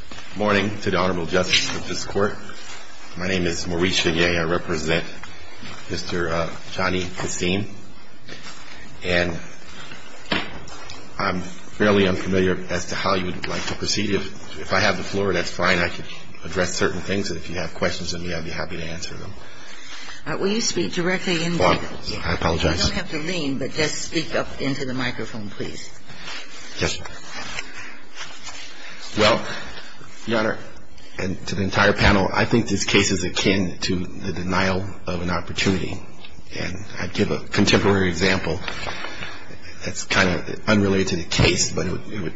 Good morning to the Honorable Justice of this Court. My name is Maurice Figuier. I represent Mr. Johnny Kasim. And I'm fairly unfamiliar as to how you would like to proceed. If I have the floor, that's fine. I can address certain things, and if you have questions of me, I'd be happy to answer them. Will you speak directly into the microphone? I apologize. You don't have to lean, but just speak up into the microphone, please. Yes, ma'am. Well, Your Honor, and to the entire panel, I think this case is akin to the denial of an opportunity. And I'd give a contemporary example that's kind of unrelated to the case, but it would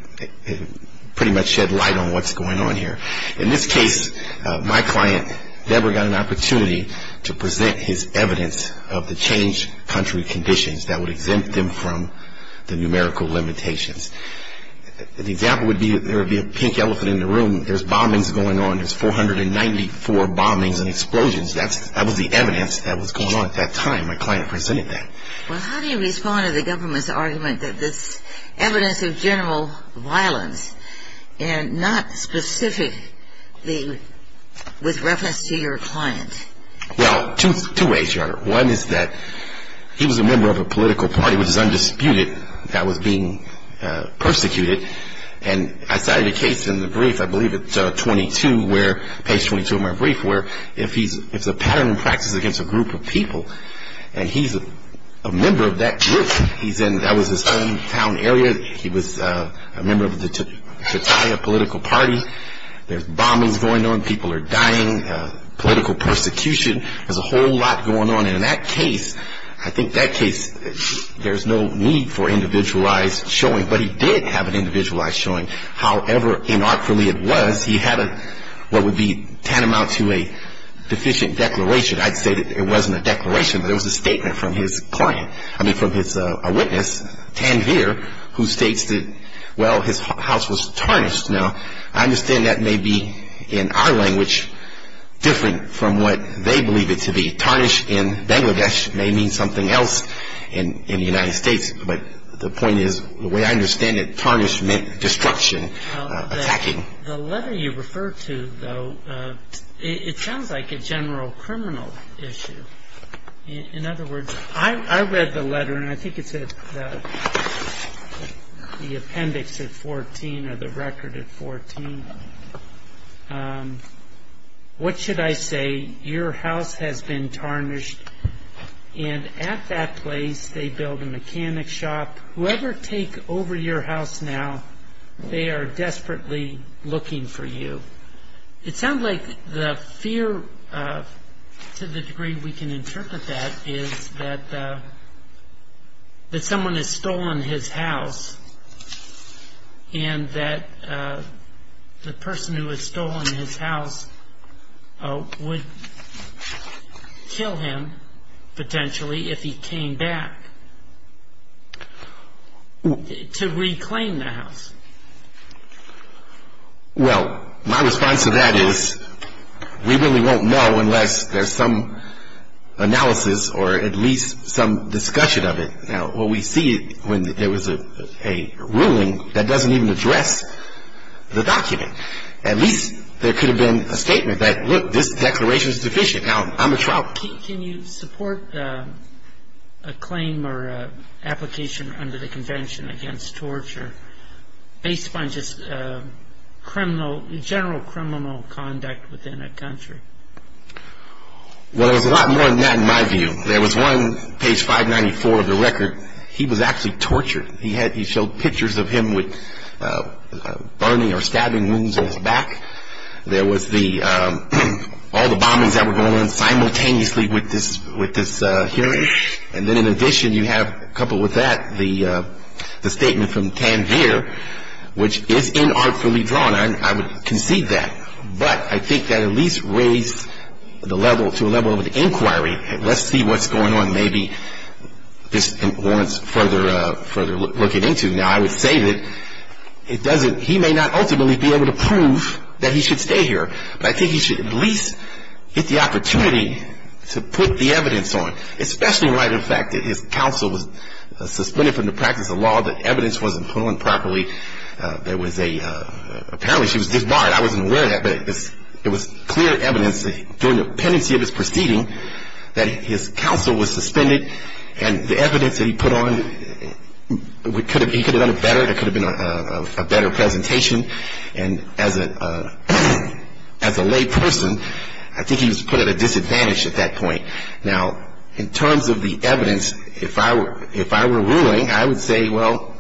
pretty much shed light on what's going on here. In this case, my client never got an opportunity to present his evidence of the change country conditions that would exempt him from the numerical limitations. The example would be there would be a pink elephant in the room. There's bombings going on. There's 494 bombings and explosions. That was the evidence that was going on at that time. My client presented that. Well, how do you respond to the government's argument that this evidence of general violence Well, two ways, Your Honor. One is that he was a member of a political party, which is undisputed, that was being persecuted. And I cited a case in the brief, I believe it's page 22 of my brief, where it's a pattern in practice against a group of people, and he's a member of that group. That was his hometown area. He was a member of the Chetiah political party. There's bombings going on. People are dying. Political persecution. There's a whole lot going on. And in that case, I think that case, there's no need for individualized showing. But he did have an individualized showing. However inartfully it was, he had what would be tantamount to a deficient declaration. I'd say that it wasn't a declaration, but it was a statement from his client, I mean from his witness, Tanveer, who states that, well, his house was tarnished. Now, I understand that may be, in our language, different from what they believe it to be. Tarnished in Bangladesh may mean something else in the United States. But the point is, the way I understand it, tarnished meant destruction, attacking. The letter you refer to, though, it sounds like a general criminal issue. In other words, I read the letter, and I think it's the appendix at 14 or the record at 14. What should I say? Your house has been tarnished. And at that place, they build a mechanic shop. Whoever take over your house now, they are desperately looking for you. It sounds like the fear, to the degree we can interpret that, is that someone has stolen his house, and that the person who has stolen his house would kill him, potentially, if he came back to reclaim the house. Well, my response to that is, we really won't know unless there's some analysis or at least some discussion of it. Now, what we see when there was a ruling that doesn't even address the document. At least there could have been a statement that, look, this declaration is deficient. Now, I'm a trout. Can you support a claim or application under the Convention against torture based upon just general criminal conduct within a country? Well, there's a lot more than that, in my view. There was one, page 594 of the record. He was actually tortured. He showed pictures of him with burning or stabbing wounds on his back. There was all the bombings that were going on simultaneously with this hearing. And then, in addition, you have, coupled with that, the statement from Tanvir, which is inartfully drawn. I would concede that. But I think that at least raised to a level of an inquiry. Let's see what's going on. Maybe this warrants further looking into. Now, I would say that he may not ultimately be able to prove that he should stay here. But I think he should at least get the opportunity to put the evidence on, especially in light of the fact that his counsel was suspended from the practice of law, that evidence wasn't put on properly. Apparently, she was disbarred. I wasn't aware of that. But it was clear evidence during the pendency of his proceeding that his counsel was suspended, and the evidence that he put on, he could have done it better. It could have been a better presentation. And as a lay person, I think he was put at a disadvantage at that point. Now, in terms of the evidence, if I were ruling, I would say, well,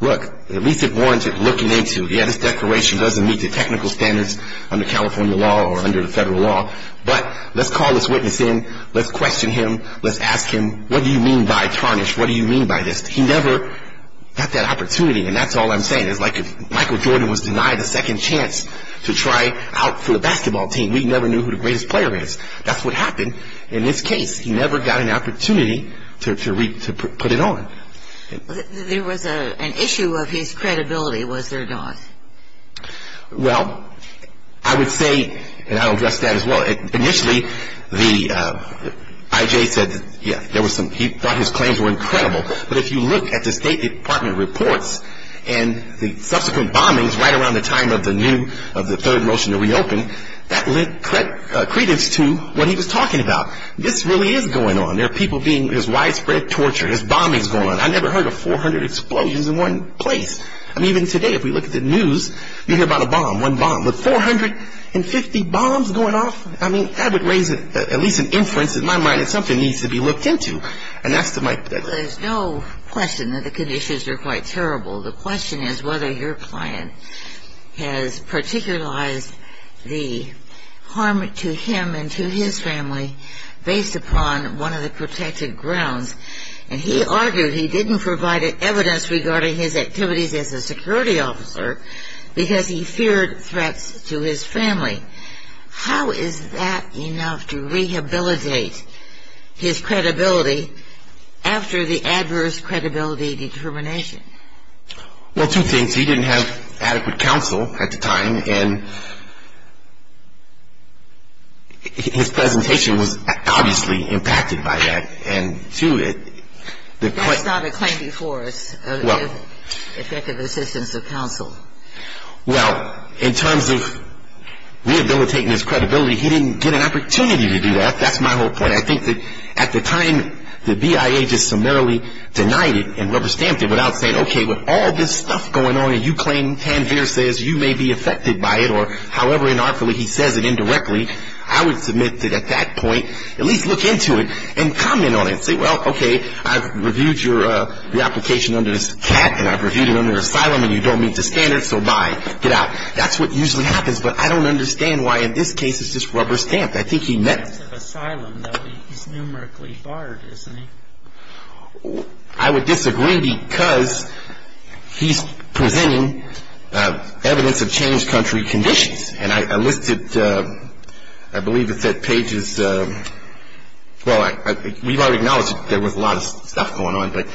look, at least it warrants looking into. Yeah, this declaration doesn't meet the technical standards under California law or under the federal law. But let's call this witness in. Let's question him. Let's ask him, what do you mean by tarnish? What do you mean by this? He never got that opportunity, and that's all I'm saying. It's like if Michael Jordan was denied a second chance to try out for the basketball team, we never knew who the greatest player is. That's what happened in this case. He never got an opportunity to put it on. There was an issue of his credibility, was there not? Well, I would say, and I'll address that as well. Initially, the I.J. said, yeah, there was some, he thought his claims were incredible. But if you look at the State Department reports and the subsequent bombings right around the time of the new, of the third motion to reopen, that lent credence to what he was talking about. This really is going on. There are people being, there's widespread torture. There's bombings going on. I never heard of 400 explosions in one place. I mean, even today, if we look at the news, you hear about a bomb, one bomb. With 450 bombs going off? I mean, that would raise at least an inference in my mind that something needs to be looked into. And that's to my... There's no question that the conditions are quite terrible. The question is whether your client has particularized the harm to him and to his family based upon one of the protected grounds. And he argued he didn't provide evidence regarding his activities as a security officer because he feared threats to his family. How is that enough to rehabilitate his credibility after the adverse credibility determination? Well, two things. He didn't have adequate counsel at the time. And his presentation was obviously impacted by that. And two... That's not a claim before us of effective assistance of counsel. Well, in terms of rehabilitating his credibility, he didn't get an opportunity to do that. That's my whole point. I think that at the time the BIA just summarily denied it and rubber-stamped it without saying, okay, with all this stuff going on and you claim Tanveer says you may be affected by it, or however anarchically he says it indirectly, I would submit that at that point at least look into it and comment on it and say, well, okay, I've reviewed your reapplication under this cat and I've reviewed it under asylum and you don't meet the standards, so bye, get out. That's what usually happens. But I don't understand why in this case it's just rubber-stamped. I think he meant... Asylum, though. He's numerically barred, isn't he? I would disagree because he's presenting evidence of changed country conditions. And I listed, I believe it said pages... Well, we've already acknowledged there was a lot of stuff going on, but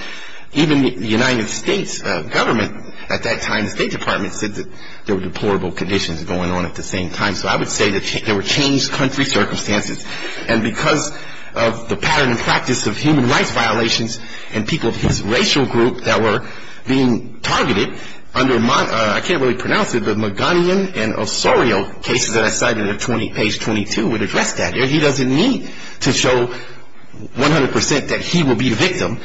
even the United States government at that time, the State Department, said that there were deplorable conditions going on at the same time. So I would say there were changed country circumstances. And because of the pattern and practice of human rights violations and people of his racial group that were being targeted under, I can't really pronounce it, the McGonigan and Osorio cases that I cited at page 22 would address that. He doesn't need to show 100% that he will be the victim.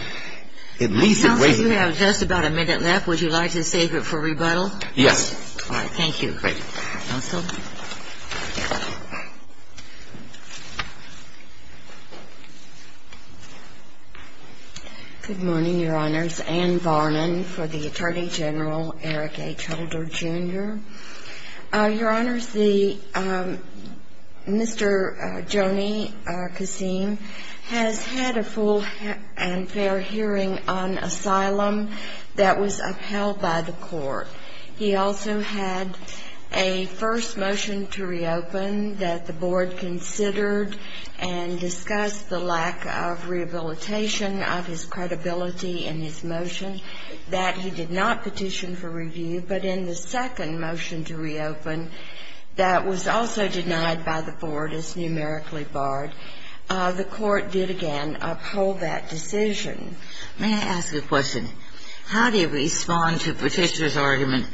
At least... Nelson, you have just about a minute left. Would you like to save it for rebuttal? Yes. All right, thank you. Great. Nelson? Thank you. Good morning, Your Honors. Ann Varnon for the Attorney General, Eric H. Holder, Jr. Your Honors, Mr. Joni Kasim has had a full and fair hearing on asylum that was upheld by the court. He also had a first motion to reopen that the board considered and discussed the lack of rehabilitation of his credibility in his motion, that he did not petition for review. But in the second motion to reopen that was also denied by the board as numerically barred, the court did again uphold that decision. May I ask a question? How do you respond to Petitioner's argument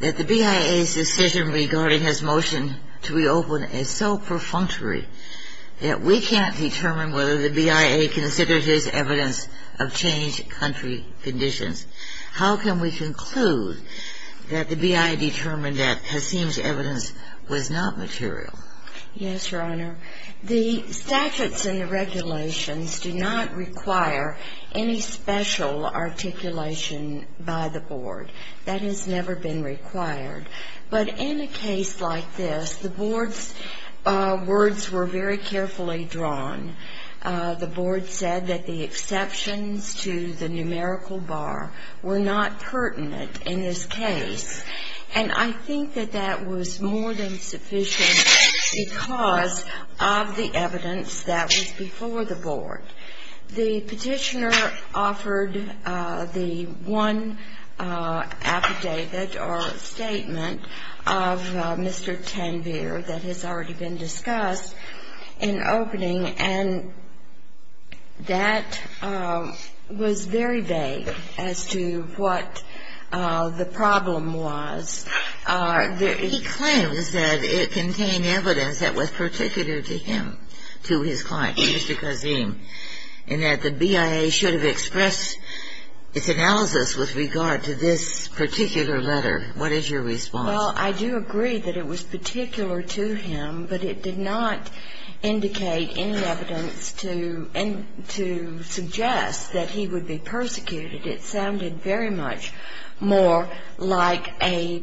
that the BIA's decision regarding his motion to reopen is so perfunctory that we can't determine whether the BIA considers his evidence of changed country conditions? How can we conclude that the BIA determined that Kasim's evidence was not material? Yes, Your Honor. The statutes and the regulations do not require any special articulation by the board. That has never been required. But in a case like this, the board's words were very carefully drawn. The board said that the exceptions to the numerical bar were not pertinent in this case. And I think that that was more than sufficient because of the evidence that was before the board. The Petitioner offered the one affidavit or statement of Mr. Tanvir that has already been discussed in opening, and that was very vague as to what the problem was. He claims that it contained evidence that was particular to him, to his client, Mr. Kasim, and that the BIA should have expressed its analysis with regard to this particular letter. What is your response? Well, I do agree that it was particular to him, but it did not indicate any evidence to suggest that he would be persecuted. It sounded very much more like a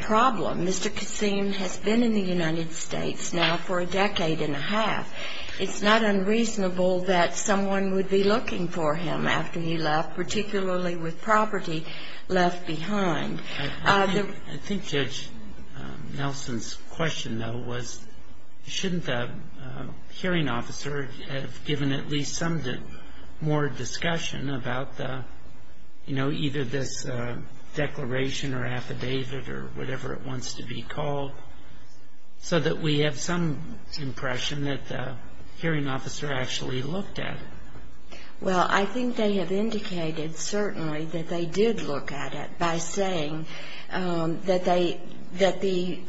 problem. Mr. Kasim has been in the United States now for a decade and a half. It's not unreasonable that someone would be looking for him after he left, particularly with property left behind. I think Judge Nelson's question, though, was, shouldn't the hearing officer have given at least some more discussion about, you know, either this declaration or affidavit or whatever it wants to be called, so that we have some impression that the hearing officer actually looked at it? Well, I think they have indicated certainly that they did look at it by saying that they, that the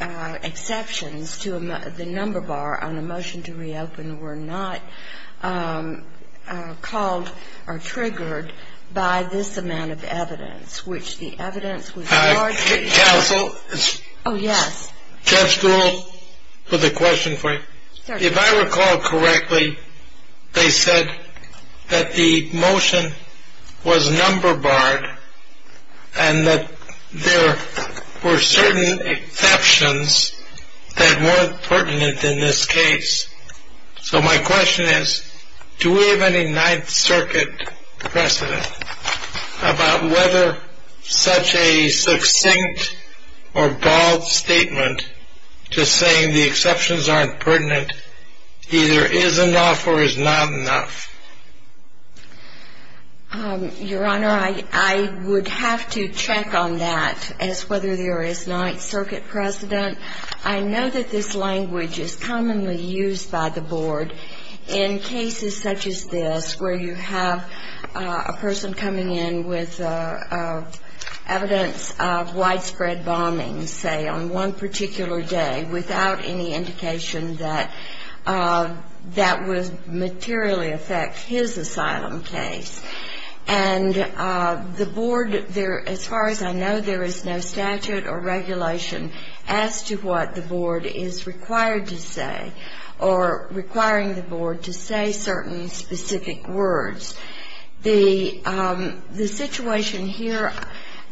exceptions to the number bar on a motion to reopen were not called or triggered by this amount of evidence, which the evidence was largely. Counsel. Oh, yes. Judge Struhl, for the question frame. Sir. If I recall correctly, they said that the motion was number barred and that there were certain exceptions that weren't pertinent in this case. So my question is, do we have any Ninth Circuit precedent about whether such a succinct or bald statement just saying the exceptions aren't pertinent either is enough or is not enough? Your Honor, I would have to check on that as whether there is Ninth Circuit precedent. I know that this language is commonly used by the board in cases such as this, where you have a person coming in with evidence of widespread bombing, say, on one particular day without any indication that that would materially affect his asylum case. And the board, as far as I know, there is no statute or regulation as to what the board is required to say or requiring the board to say certain specific words. The situation here,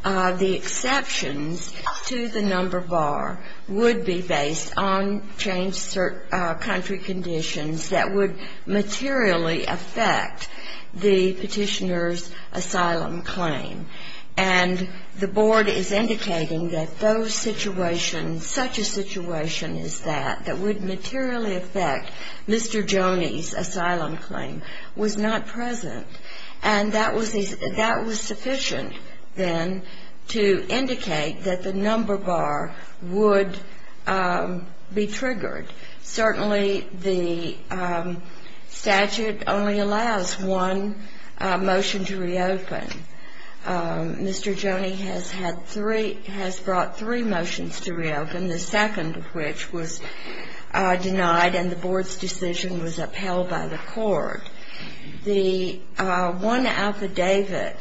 the exceptions to the number bar would be based on changed country conditions that would materially affect the Petitioner's asylum claim. And the board is indicating that those situations, such a situation as that, that would materially affect Mr. Joni's asylum claim was not present. And that was sufficient, then, to indicate that the number bar would be triggered. Certainly, the statute only allows one motion to reopen. Mr. Joni has had three, has brought three motions to reopen, the second of which was denied, and the board's decision was upheld by the court. The one affidavit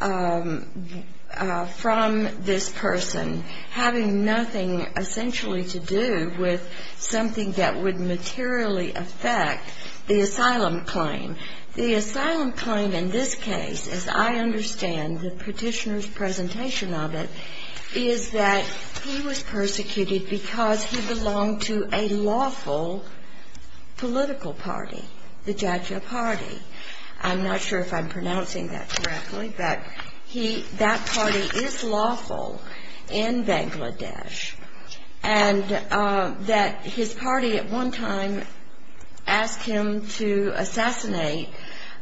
from this person having nothing essentially to do with something that would materially affect the asylum claim. The asylum claim in this case, as I understand the Petitioner's presentation of it, is that he was persecuted because he belonged to a lawful political party, the Jatja Party. I'm not sure if I'm pronouncing that correctly, but that party is lawful in Bangladesh, and that his party at one time asked him to assassinate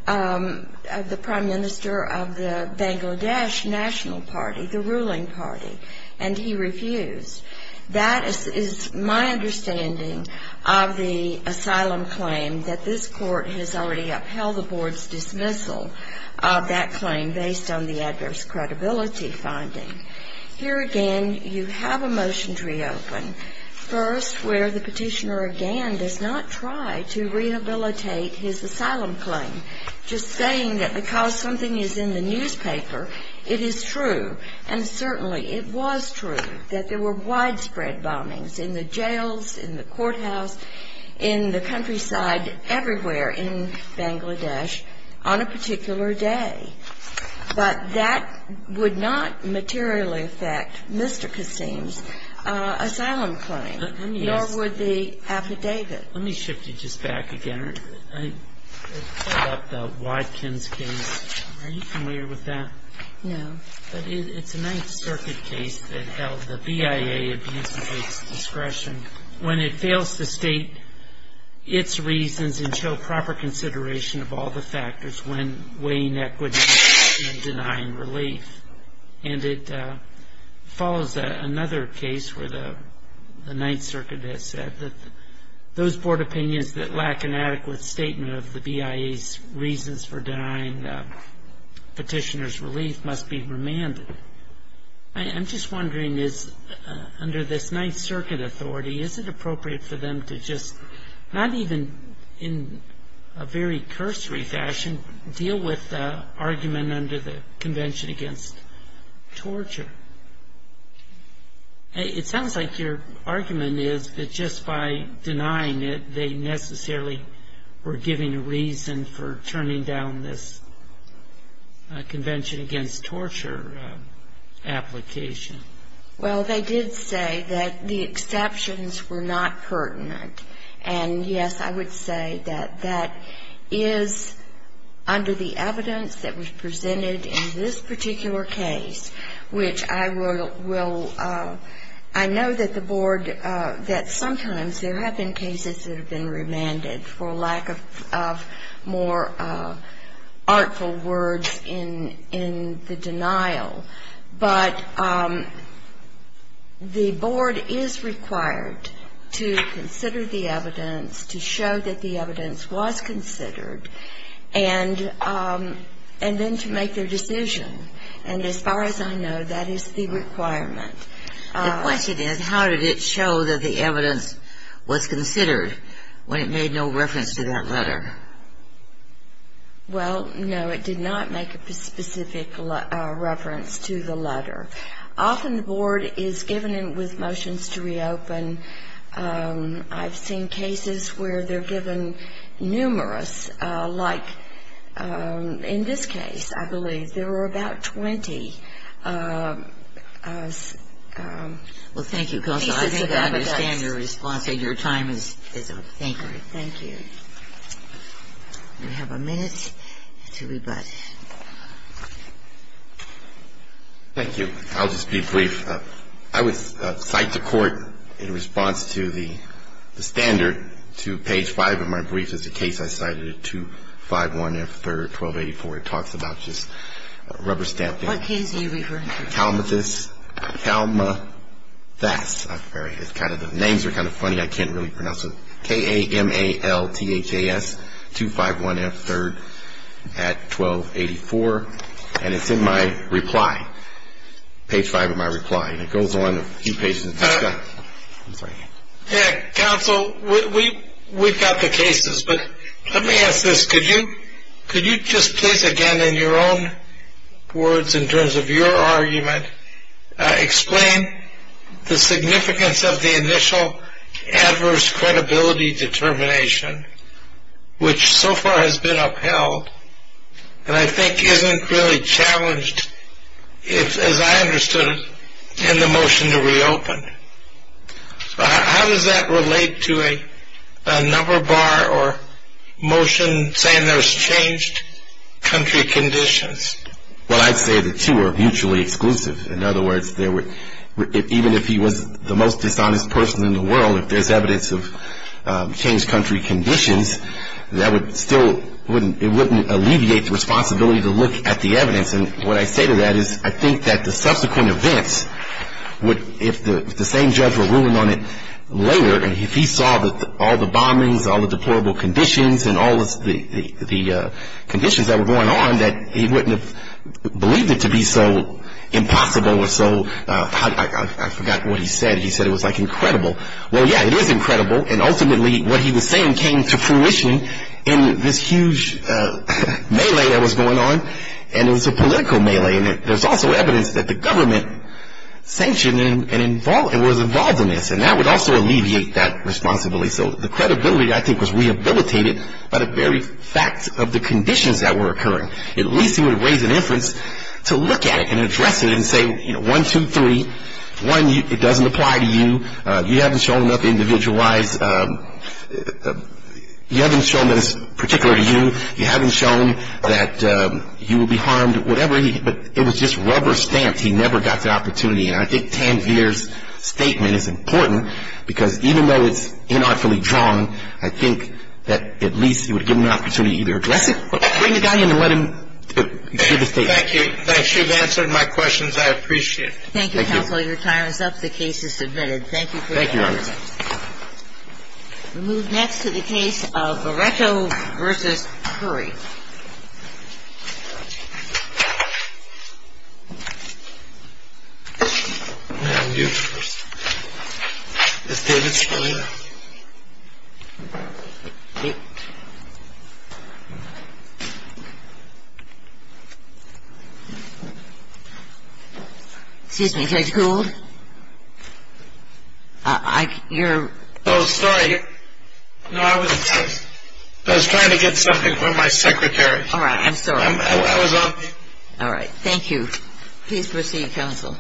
the prime minister of the Bangladesh National Party, the ruling party, and he refused. That is my understanding of the asylum claim, that this court has already upheld the board's dismissal of that claim based on the adverse credibility finding. Here again, you have a motion to reopen. First, where the Petitioner again does not try to rehabilitate his asylum claim, just saying that because something is in the newspaper, it is true, and certainly it was true that there were widespread bombings in the jails, in the courthouse, in the countryside, everywhere in Bangladesh on a particular day. But that would not materially affect Mr. Kassim's asylum claim, nor would the affidavit. Let me shift you just back again. I thought about the Watkins case. Are you familiar with that? No. But it's a Ninth Circuit case that held the BIA abuse of its discretion when it fails to state its reasons and show proper consideration of all the factors when weighing equity and denying relief. And it follows another case where the Ninth Circuit has said that those board opinions that lack an adequate statement of the BIA's reasons for denying Petitioner's relief must be remanded. I'm just wondering, under this Ninth Circuit authority, is it appropriate for them to just, not even in a very cursory fashion, to deal with the argument under the Convention Against Torture? It sounds like your argument is that just by denying it, they necessarily were giving a reason for turning down this Convention Against Torture application. Well, they did say that the exceptions were not pertinent. And, yes, I would say that that is under the evidence that was presented in this particular case, which I will ‑‑ I know that the board, that sometimes there have been cases that have been remanded for lack of more artful words in the denial. But the board is required to consider the evidence, to show that the evidence was considered, and then to make their decision. And as far as I know, that is the requirement. The question is, how did it show that the evidence was considered when it made no reference to that letter? Well, no, it did not make a specific reference to the letter. Often the board is given with motions to reopen. I've seen cases where they're given numerous, like in this case, I believe. There were about 20 pieces of evidence. Well, thank you, Kelsa. I think I understand your response, and your time is up. Thank you. Thank you. We have a minute to rebut. Thank you. I'll just be brief. I would cite the court in response to the standard to page 5 of my brief as the case I cited at 251F3R1284. It talks about just rubber stamping. What case are you referring to? Kalmathas. The names are kind of funny. I can't really pronounce them. K-A-M-A-L-T-H-A-S, 251F3R1284. And it's in my reply, page 5 of my reply. And it goes on a few pages. Counsel, we've got the cases. But let me ask this. Could you just please, again, in your own words, in terms of your argument, explain the significance of the initial adverse credibility determination, which so far has been upheld, and I think isn't really challenged, as I understood it, in the motion to reopen. How does that relate to a number bar or motion saying there's changed country conditions? Well, I'd say the two are mutually exclusive. In other words, even if he was the most dishonest person in the world, if there's evidence of changed country conditions, that still wouldn't alleviate the responsibility to look at the evidence. And what I say to that is I think that the subsequent events would, if the same judge were ruling on it later, and if he saw all the bombings, all the deplorable conditions, and all the conditions that were going on, that he wouldn't have believed it to be so impossible or so, I forgot what he said. He said it was like incredible. Well, yeah, it is incredible. And ultimately, what he was saying came to fruition in this huge melee that was going on. And it was a political melee. And there's also evidence that the government sanctioned and was involved in this. And that would also alleviate that responsibility. So the credibility, I think, was rehabilitated by the very fact of the conditions that were occurring. At least he would raise an inference to look at it and address it and say, you know, one, two, three. One, it doesn't apply to you. You haven't shown up individualized. You haven't shown that it's particular to you. You haven't shown that you will be harmed, whatever. But it was just rubber stamped. He never got the opportunity. And I think Tanvir's statement is important because even though it's inartfully drawn, I think that at least it would give him an opportunity to either address it or bring the guy in and let him give the statement. Thank you. Thanks. You've answered my questions. I appreciate it. Thank you, Counsel. The case is submitted. Thank you for your time. Thank you, Your Honor. We move next to the case of Beretto v. Curry. Excuse me, Judge Gould. You're... Oh, sorry. No, I was trying to get something from my secretary. All right. I'm sorry. I was on... All right. Thank you. Please proceed, Counsel.